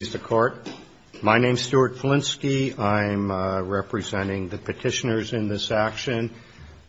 is the court. My name is Stuart Flinsky. I'm representing the petitioners in this action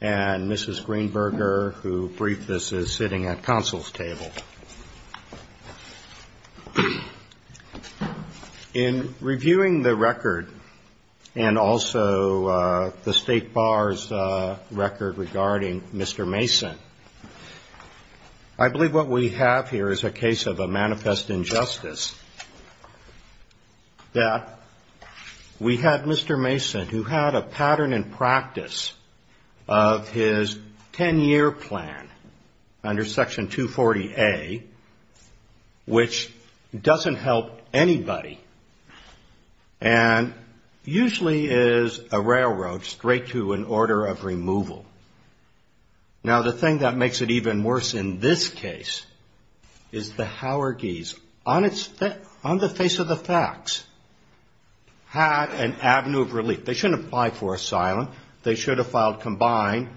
and Mrs. Greenberger, who briefed us, is sitting at counsel's table. In reviewing the record and also the State Bar's record regarding Mr. Mason, I believe what we have here is a case of a manifest injustice, that we had Mr. Mason, who had a pattern and practice of his 10-year plan under Section 240A, which doesn't help anybody and usually is a railroad straight to an order of removal. Now, the thing that makes it even worse in this case is the Howarguis, on the face of the facts, had an avenue of relief. They shouldn't have applied for asylum. They should have filed combined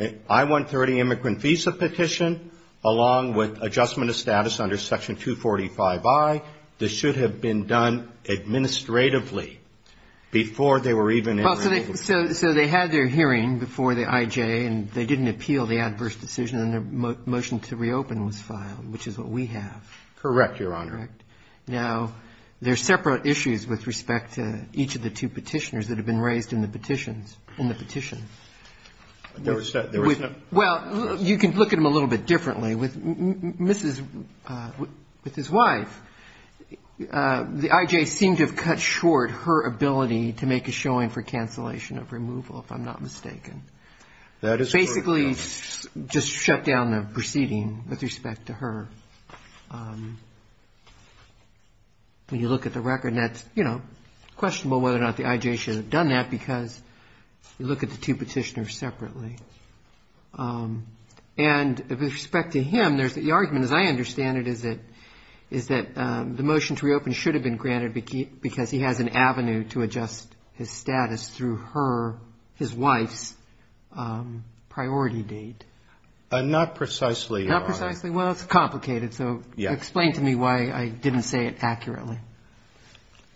I-130 immigrant visa petition along with adjustment of status under Section 245I. This should have been done administratively before they were even able to do it. So they had their hearing before the I.J. and they didn't appeal the adverse decision and their motion to reopen was filed, which is what we have. Correct, Your Honor. Correct. Now, there are separate issues with respect to each of the two petitioners that have been raised in the petitions, in the petition. There was no --- Well, you can look at them a little bit differently. With Mrs. -- with his wife, the I.J. seemed to have cut short her ability to make a showing for cancellation of removal, if I'm not mistaken. That is correct, Your Honor. Basically, just shut down the proceeding with respect to her. When you look at the record, that's, you know, questionable whether or not the I.J. should have done that because you look at the two petitioners separately. And with respect to him, there's the argument, as I understand it, is that the motion to because he has an avenue to adjust his status through her, his wife's priority date. Not precisely, Your Honor. Not precisely? Well, it's complicated, so explain to me why I didn't say it accurately.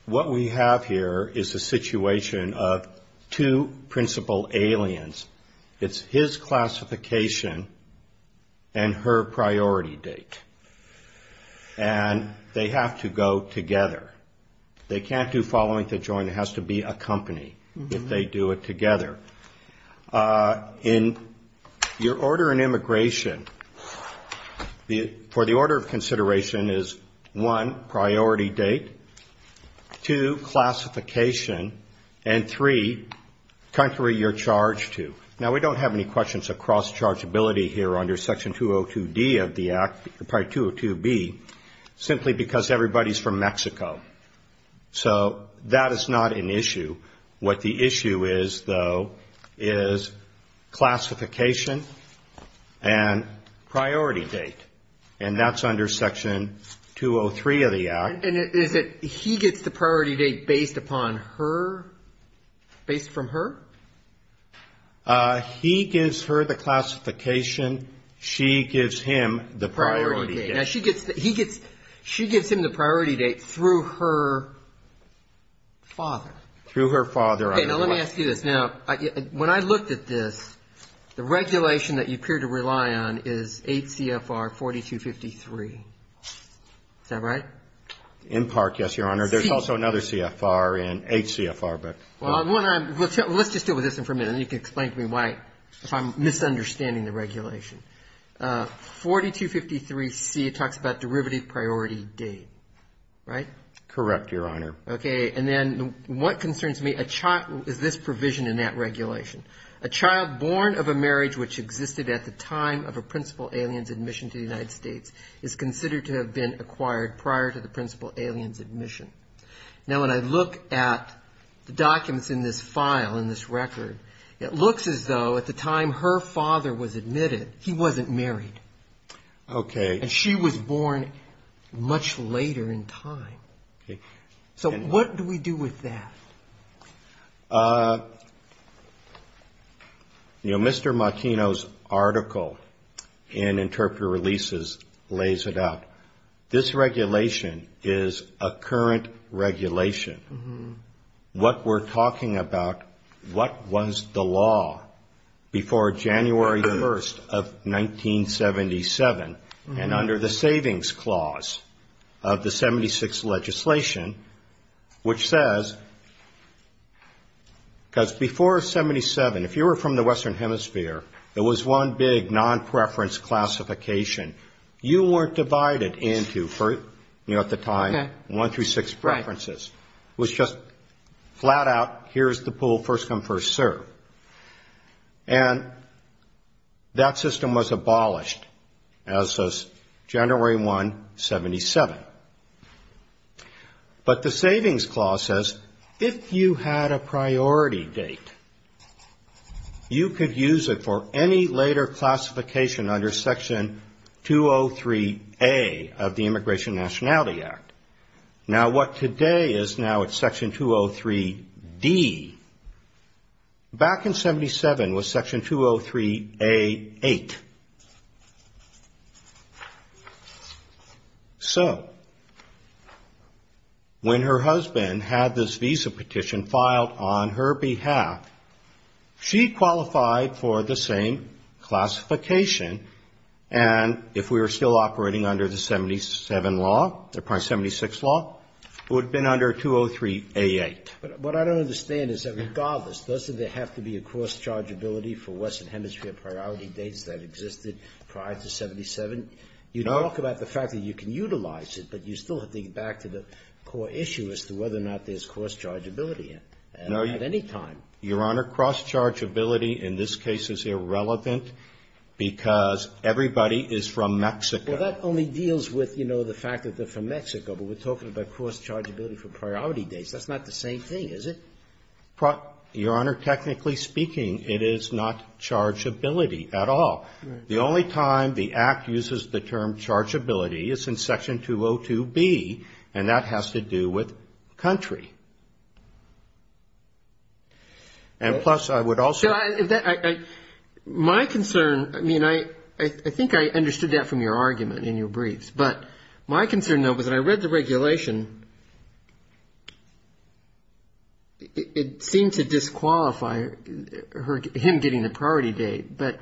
What we have here is a situation of two principal aliens. It's his classification and her priority date. And they have to go together. They can't do following to join. It has to be a company if they do it together. In your order in immigration, for the order of consideration is, one, priority date, two, classification, and three, country you're charged to. Now, we don't have any questions of cross-chargeability here under Section 202D of the Act, or probably 202B, simply because everybody's from Mexico. So that is not an issue. What the issue is, though, is classification and priority date. And that's under Section 203 of the Act. And is it he gets the priority date based upon her, based from her? He gives her the classification. She gives him the priority date. Priority date. Now, she gets, he gets, she gives him the priority date through her father. Through her father. Okay, now let me ask you this. Now, when I looked at this, the regulation that you appear to rely on is 8 CFR 4253. Is that right? In part, yes, Your Honor. There's also another CFR in, 8 CFR, but. Well, let's just deal with this one for a minute, and you can explain to me why, if I'm misunderstanding the regulation. 4253C, it talks about derivative priority date, right? Correct, Your Honor. Okay, and then what concerns me, a child, is this provision in that regulation? A child born of a marriage which existed at the time of a principal alien's admission to the United States is considered to have been acquired prior to the principal alien's admission. Now, when I look at the documents in this file, in this record, it looks as though at the time her father was admitted, he wasn't married. Okay. And she was born much later in time. Okay. So, what do we do with that? You know, Mr. Martino's article in Interpreter Releases lays it out. This regulation is a current regulation. What we're talking about, what was the law before January 1st of 1977, and under the Savings Clause of the 76th Legislation, which says, if a child is born of a marriage, because before 77, if you were from the Western Hemisphere, there was one big non-preference classification. You weren't divided into, you know, at the time, one through six preferences. Right. It was just flat out, here's the pool, first come, first serve. And that system was abolished as of January 1, 77. But the Savings Clause says, if you had a priority date, you were born of a priority date, you could use it for any later classification under Section 203A of the Immigration Nationality Act. Now, what today is now it's Section 203D. Back in 77 was Section 203A8. So, when her husband had this visa petition filed on her behalf, she qualified for the same classification. And if we were still operating under the 77 law, the 76 law, it would have been under 203A8. But what I don't understand is that regardless, doesn't there have to be a cross-chargeability for Western States that existed prior to 77? No. You talk about the fact that you can utilize it, but you still have to get back to the core issue as to whether or not there's cross-chargeability at any time. Your Honor, cross-chargeability in this case is irrelevant because everybody is from Mexico. Well, that only deals with, you know, the fact that they're from Mexico. But we're talking about cross-chargeability for priority dates. That's not the same thing, is it? Your Honor, technically speaking, it is not chargeability at all. Right. The only time the Act uses the term chargeability is in Section 202B, and that has to do with country. And plus, I would also ---- My concern, I mean, I think I understood that from your argument in your briefs. But my concern, though, was that I read the regulation. It seemed to disqualify him getting the priority date. But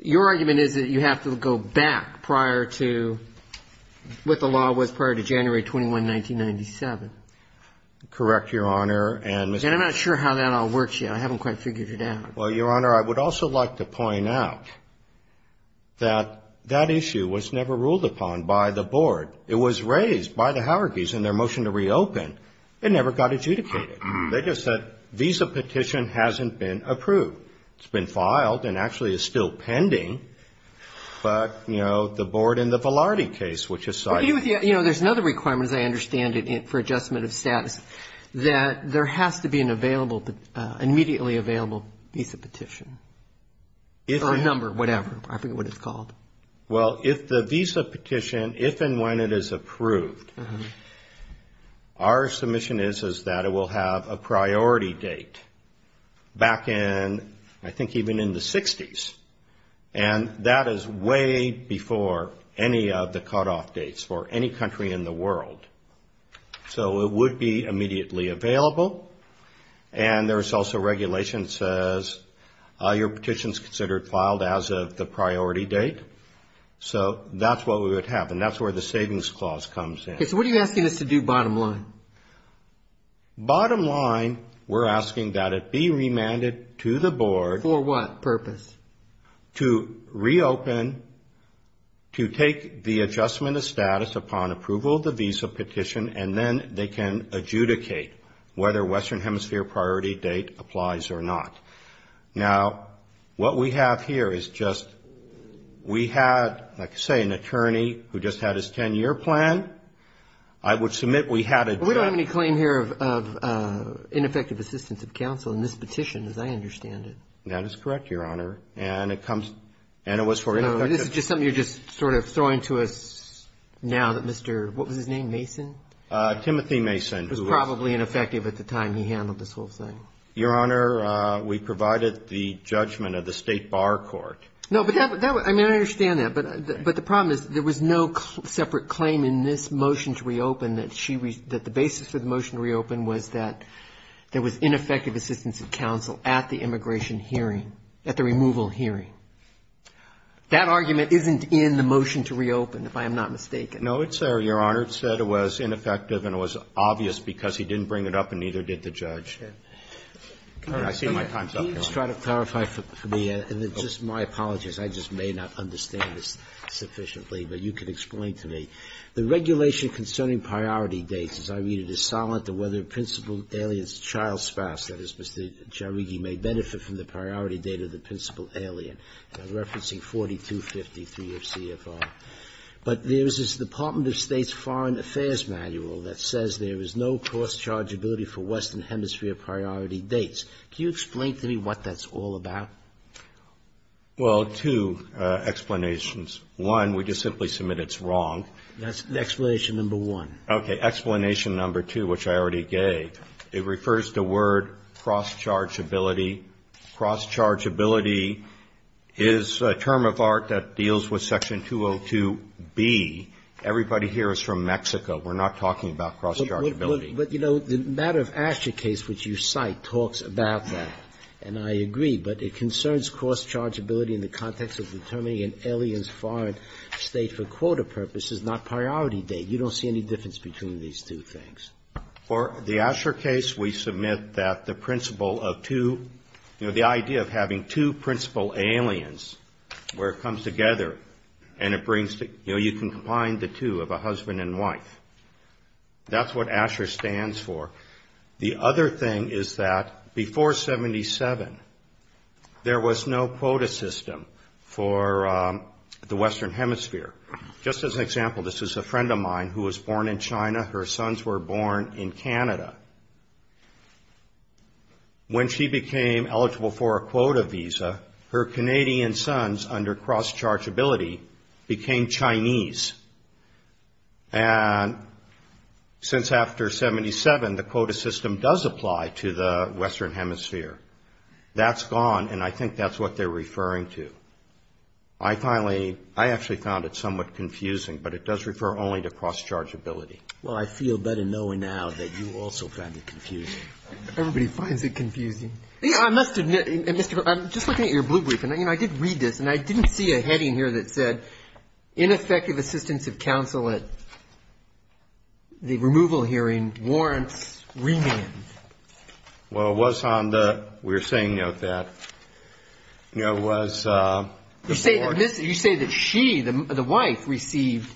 your argument is that you have to go back prior to what the law was prior to January 21, 1997. Correct, Your Honor. And I'm not sure how that all works yet. I haven't quite figured it out. Well, Your Honor, I would also like to point out that that issue was never ruled upon by the Board. It was raised by the Howergees in their motion to reopen. It never got adjudicated. They just said visa petition hasn't been approved. It's been filed and actually is still pending. But, you know, the Board in the Velarde case, which is cited. You know, there's another requirement, as I understand it, for adjustment of status, that there has to be an immediately available visa petition. Or a number, whatever. I forget what it's called. Well, if the visa petition, if and when it is approved, our submission is that it will have a priority date back in, I think, even in the 60s. And that is way before any of the cutoff dates for any country in the world. So it would be immediately available. And there's also regulation that says your petition is considered filed as of the priority date. So that's what we would have. And that's where the Savings Clause comes in. So what are you asking us to do, bottom line? Bottom line, we're asking that it be remanded to the Board. For what purpose? To reopen, to take the adjustment of status upon approval of the visa petition, and then they can adjudicate whether Western Hemisphere priority date applies or not. Now, what we have here is just, we had, like I say, an attorney who just had his 10-year plan. I would submit we had a... We don't have any claim here of ineffective assistance of counsel in this petition, as I understand it. That is correct, Your Honor. And it comes, and it was for... This is just something you're just sort of throwing to us now that Mr., what was his name, Mason? Timothy Mason, who was... It was probably ineffective at the time he handled this whole thing. Your Honor, we provided the judgment of the State Bar Court. No, but that, I mean, I understand that. But the problem is there was no separate claim in this motion to reopen that the basis for the motion to reopen was that there was ineffective assistance of counsel at the immigration hearing, at the removal hearing. That argument isn't in the motion to reopen, if I am not mistaken. No, it's there, Your Honor. It said it was ineffective, and it was obvious because he didn't bring it up, and neither did the judge. Can you just try to clarify for me, and just my apologies, I just may not understand this sufficiently, but you can explain to me. The regulation concerning priority dates, as I read it, is solid to whether principal alien's child spouse, that is, Mr. Jairighi, may benefit from the priority date of the principal alien. I'm referencing 4253 of CFR. But there is this Department of State's foreign affairs manual that says there is no cross-chargeability for Western Hemisphere priority dates. Can you explain to me what that's all about? Well, two explanations. One, we just simply submit it's wrong. That's explanation number one. Okay, explanation number two, which I already gave, it refers to word cross-chargeability. Cross-chargeability is a term of art that deals with section 202B. Everybody here is from Mexico. We're not talking about cross-chargeability. But, you know, the matter of Asher case, which you cite, talks about that. And I agree, but it concerns cross-chargeability in the context of determining an alien's foreign state for quota purposes, not priority date. You don't see any difference between these two things? For the Asher case, we submit that the principle of two, you know, the idea of having two principal aliens, where it comes together and it brings, you know, you can combine the two of a husband and wife. That's what Asher stands for. The other thing is that before 77, there was no quota system for the Western Hemisphere. Just as an example, this is a friend of mine who was born in China. Her sons were born in Canada. When she became eligible for a quota visa, her Canadian sons, under cross-chargeability, became Chinese. And since after 77, the quota system does apply to the Western Hemisphere. That's gone, and I think that's what they're referring to. I finally, I actually found it somewhat confusing, but it does refer only to cross-chargeability. Well, I feel better knowing now that you also found it confusing. Everybody finds it confusing. I must admit, I'm just looking at your blue brief, and I did read this, and I didn't see a heading here that said, ineffective assistance of counsel at the removal hearing warrants remand. Well, it was on the, we were saying, you know, that it was... You say that she, the wife, received,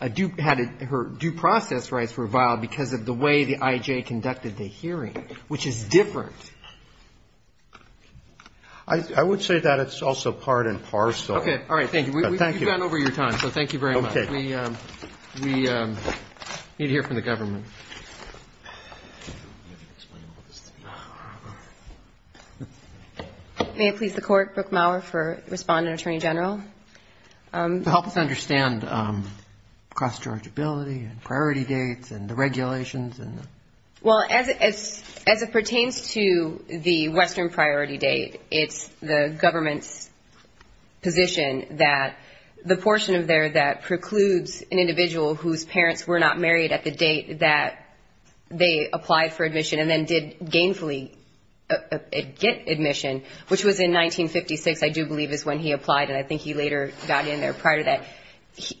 had her due process rights reviled because of the way the IJ conducted the hearing, which is different. I would say that it's also part and parcel. Okay. All right. Thank you. We've gone over your time, so thank you very much. We need to hear from the government. May it please the Court, Brooke Maurer for Respondent Attorney General. Help us understand cross-chargeability and priority dates and the regulations. Well, as it pertains to the Western priority date, it's the government's position that the portion of there that precludes an individual whose parents were not married at the date that they applied for admission and then did gainfully get admission, which was in 1956, I do believe, is when he applied, and I think he later got in there prior to that.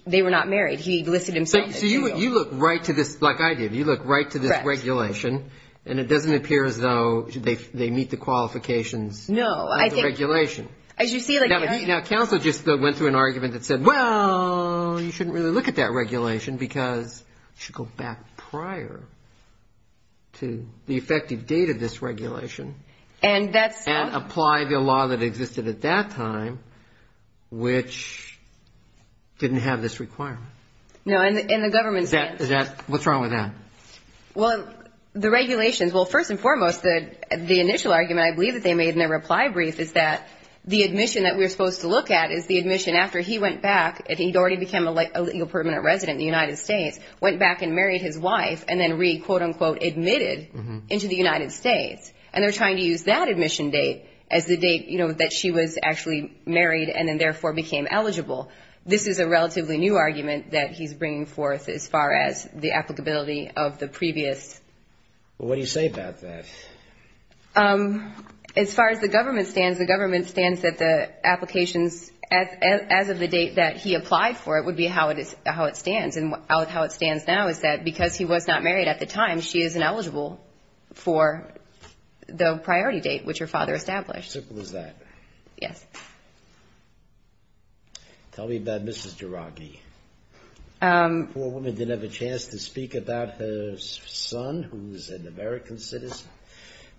They were not married. He listed himself... So you look right to this, like I did, you look right to this regulation, and it doesn't appear as though they meet the qualifications of the regulation. No, I think, as you see... Now, counsel just went through an argument that said, well, you shouldn't really look at that regulation because you should go back prior to the effective date of this regulation... And that's... And apply the law that existed at that time, which didn't have this requirement. No, and the government... What's wrong with that? Well, the regulations, well, first and foremost, the initial argument I believe that they made in their reply brief is that the admission that we're supposed to look at is the admission after he went back and he'd already become a permanent resident in the United States, went back and married his wife, and then re-quote-unquote-admitted into the United States. And they're trying to use that admission date as the date, you know, that she was actually married and then therefore became eligible. This is a relatively new argument that he's bringing forth as far as the applicability of the previous... Well, what do you say about that? Um, as far as the government stands, the government stands that the applications as of the date that he applied for it would be how it stands. And how it stands now is that because he was not married at the time, she is ineligible for the priority date, which her father established. Simple as that. Yes. Tell me about Mrs. Girodny. Um... The poor woman didn't have a chance to speak about her son, who's an American citizen.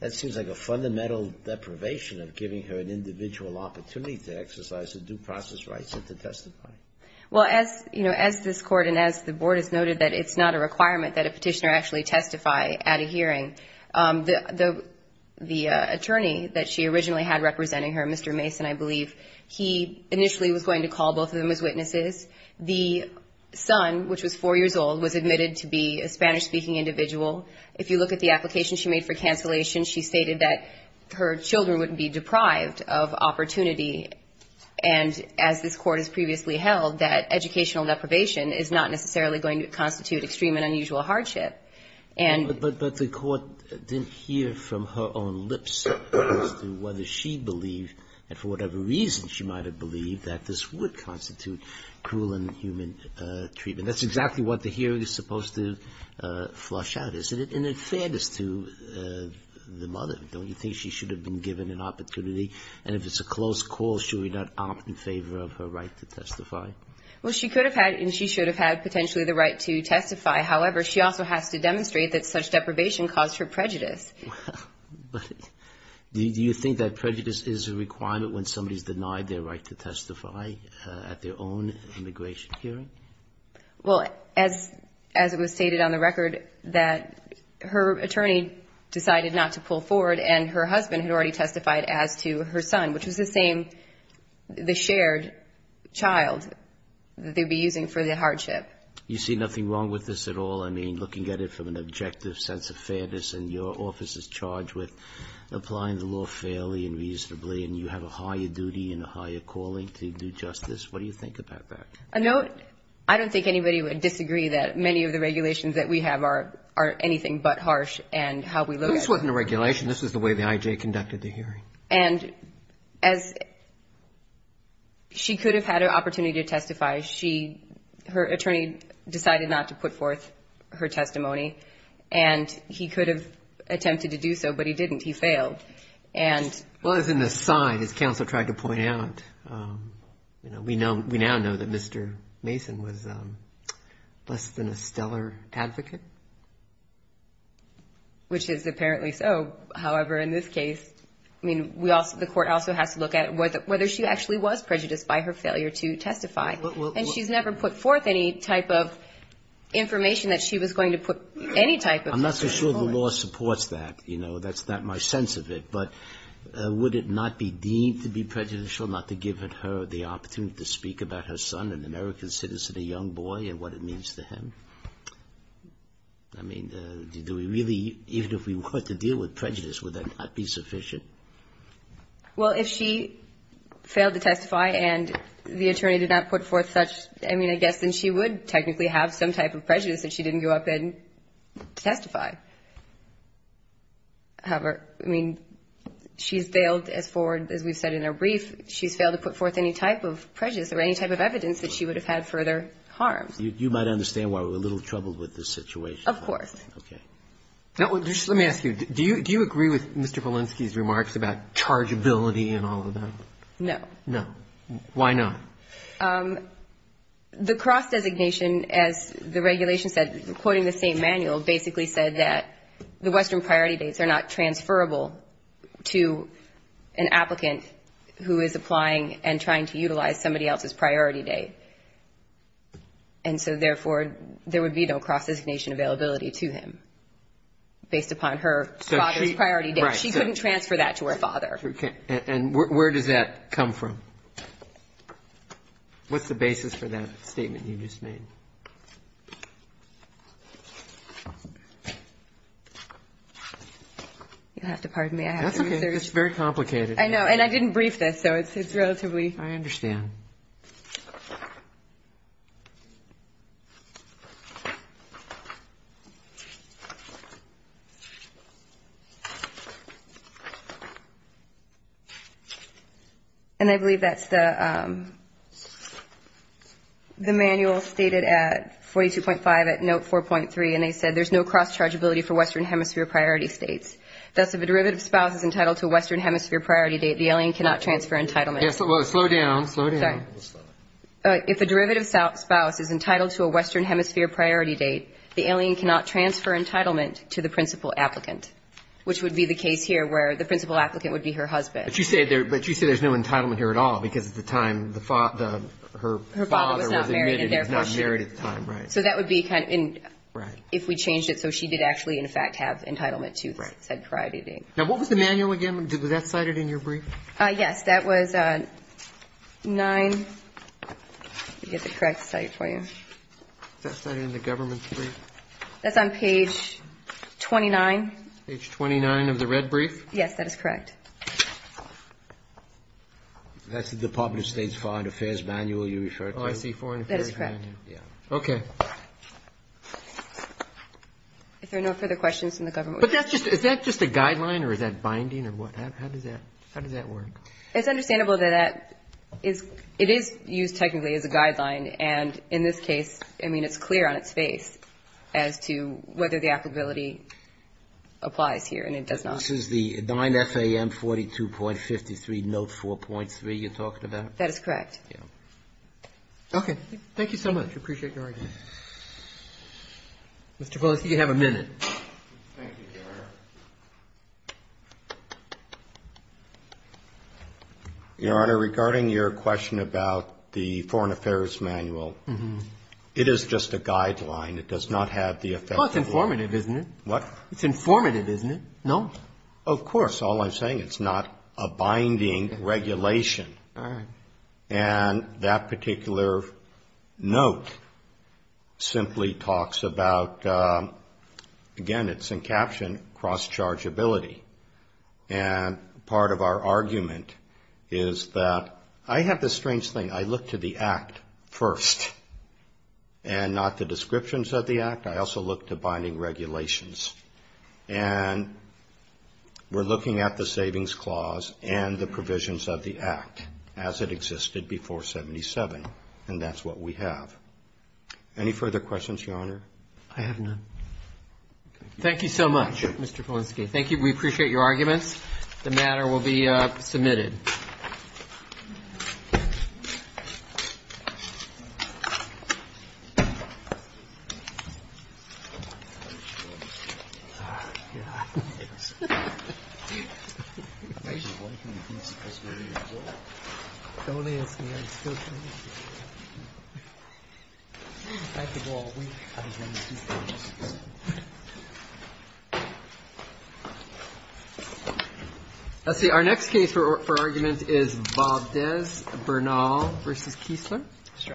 That seems like a fundamental deprivation of giving her an individual opportunity to exercise her due process rights and to testify. Well, as this Court and as the Board has noted, that it's not a requirement that a petitioner actually testify at a hearing. The attorney that she originally had representing her, Mr. Mason, I believe, he initially was going to call both of them as witnesses. The son, which was four years old, was admitted to be a Spanish-speaking individual. If you look at the application she made for cancellation, she stated that her children would be deprived of opportunity, and as this Court has previously held, that educational deprivation is not necessarily going to constitute extreme and unusual hardship. But the Court didn't hear from her own lips as to whether she believed that for whatever reason she might have believed that this would constitute cruel and inhuman treatment. That's exactly what the hearing is supposed to flush out, isn't it? In fairness to the mother, don't you think she should have been given an opportunity? And if it's a close call, should we not opt in favor of her right to testify? Well, she could have had and she should have had potentially the right to testify. However, she also has to demonstrate that such deprivation caused her prejudice. Do you think that prejudice is a requirement when somebody has denied their right to testify at their own immigration hearing? Well, as it was stated on the record, that her attorney decided not to pull forward and her husband had already testified as to her son, which was the same, the shared child that they'd be using for the hardship. You see nothing wrong with this at all? I mean, looking at it from an objective sense of fairness and your office is charged with applying the law fairly and reasonably and you have a higher duty and a higher calling to do justice? What do you think about that? I don't think anybody would disagree that many of the things are anything but harsh and how we look at it. This wasn't a regulation. This was the way the IJ conducted the hearing. And as she could have had an opportunity to testify, her attorney decided not to put forth her testimony and he could have attempted to do so, but he didn't. He failed. Well, as an aside, as counsel tried to point out, we now know that Mr. Mason was less than a stellar advocate. Which is apparently so. However, in this case, I mean, the court also has to look at whether she actually was prejudiced by her failure to testify. And she's never put forth any type of information that she was going to put any type of... I'm not so sure the law supports that. You know, that's not my sense of it. But would it not be deemed to be prejudicial not to give her the opportunity to speak about her son, an American citizen, a young boy, and what it means to him? I mean, do we really, even if we were to deal with prejudice, would that not be sufficient? Well, if she failed to testify and the attorney did not put forth such I mean, I guess then she would technically have some type of prejudice that she didn't go up and testify. However, I mean, she's failed as far as we've said in her brief, she's failed to put forth any type of prejudice or any type of evidence that she would have had further harm. You might understand why we're a little troubled with this situation. Of course. Let me ask you, do you agree with Mr. Polinsky's remarks about chargeability and all of that? No. No. Why not? The cross designation, as the regulation said, quoting the same manual, basically said that the Western priority dates are not transferable to an applicant who is applying and trying to utilize somebody else's priority date. And so, therefore, there would be no cross designation availability to him, based upon her father's priority date. She couldn't transfer that to her father. And where does that come from? What's the basis for that statement you just made? You'll have to pardon me. That's okay. It's very complicated. I know. And I didn't brief this, so it's relatively I understand. And I believe that's the the manual stated at 42.5 at note 4.3. And they said there's no cross chargeability for Western hemisphere priority states. Thus, if a derivative spouse is entitled to a Western hemisphere priority date, the alien cannot transfer entitlement. Slow down. If a derivative spouse is entitled to a Western hemisphere priority date, the alien cannot transfer entitlement to the principal applicant, which would be the case here, where the principal applicant would be her husband. But you say there's no entitlement here at all, because at the time, her father was admitted and was not married at the time. So that would be kind of if we changed it so she did actually, in fact, have entitlement to said priority date. Now, what was the manual again? Was that cited in your brief? Yes, that was 9 I'll get the correct cite for you. Is that cited in the government's brief? That's on page 29. Page 29 of the red brief? Yes, that is correct. That's the Department of State's foreign affairs manual you referred to. Oh, I see. Okay. Is there no further questions from the government? Is that just a guideline or is that binding or what? How does that work? It's understandable that it is used technically as a guideline, and in this case I mean, it's clear on its face as to whether the applicability applies here, and it does not. This is the 9 FAM 42.53 note 4.3 you're talking about? That is correct. Okay. Thank you so much. I appreciate your argument. Mr. Pelosi, you have a minute. Thank you, Your Honor. Your Honor, regarding your question about the foreign affairs manual, it is just a guideline. It does not have the Well, it's informative, isn't it? What? It's informative, isn't it? No. Of course. All I'm saying, it's not a binding regulation. All right. And that particular note simply talks about again, it's in caption, cross-chargeability. And part of our argument is that I have this strange thing. I look to the Act first, and not the descriptions of the Act. I also look to binding regulations. And we're looking at the Savings Clause and the provisions of the Act as it existed before 77, and that's what we have. Any further questions, Your Honor? I have none. Thank you so much, Mr. Polensky. Thank you. We appreciate your arguments. The matter will be submitted. Thank you. Thank you. Thank you. Our next case for argument is Bob Dez, Bernal v. Kiesler.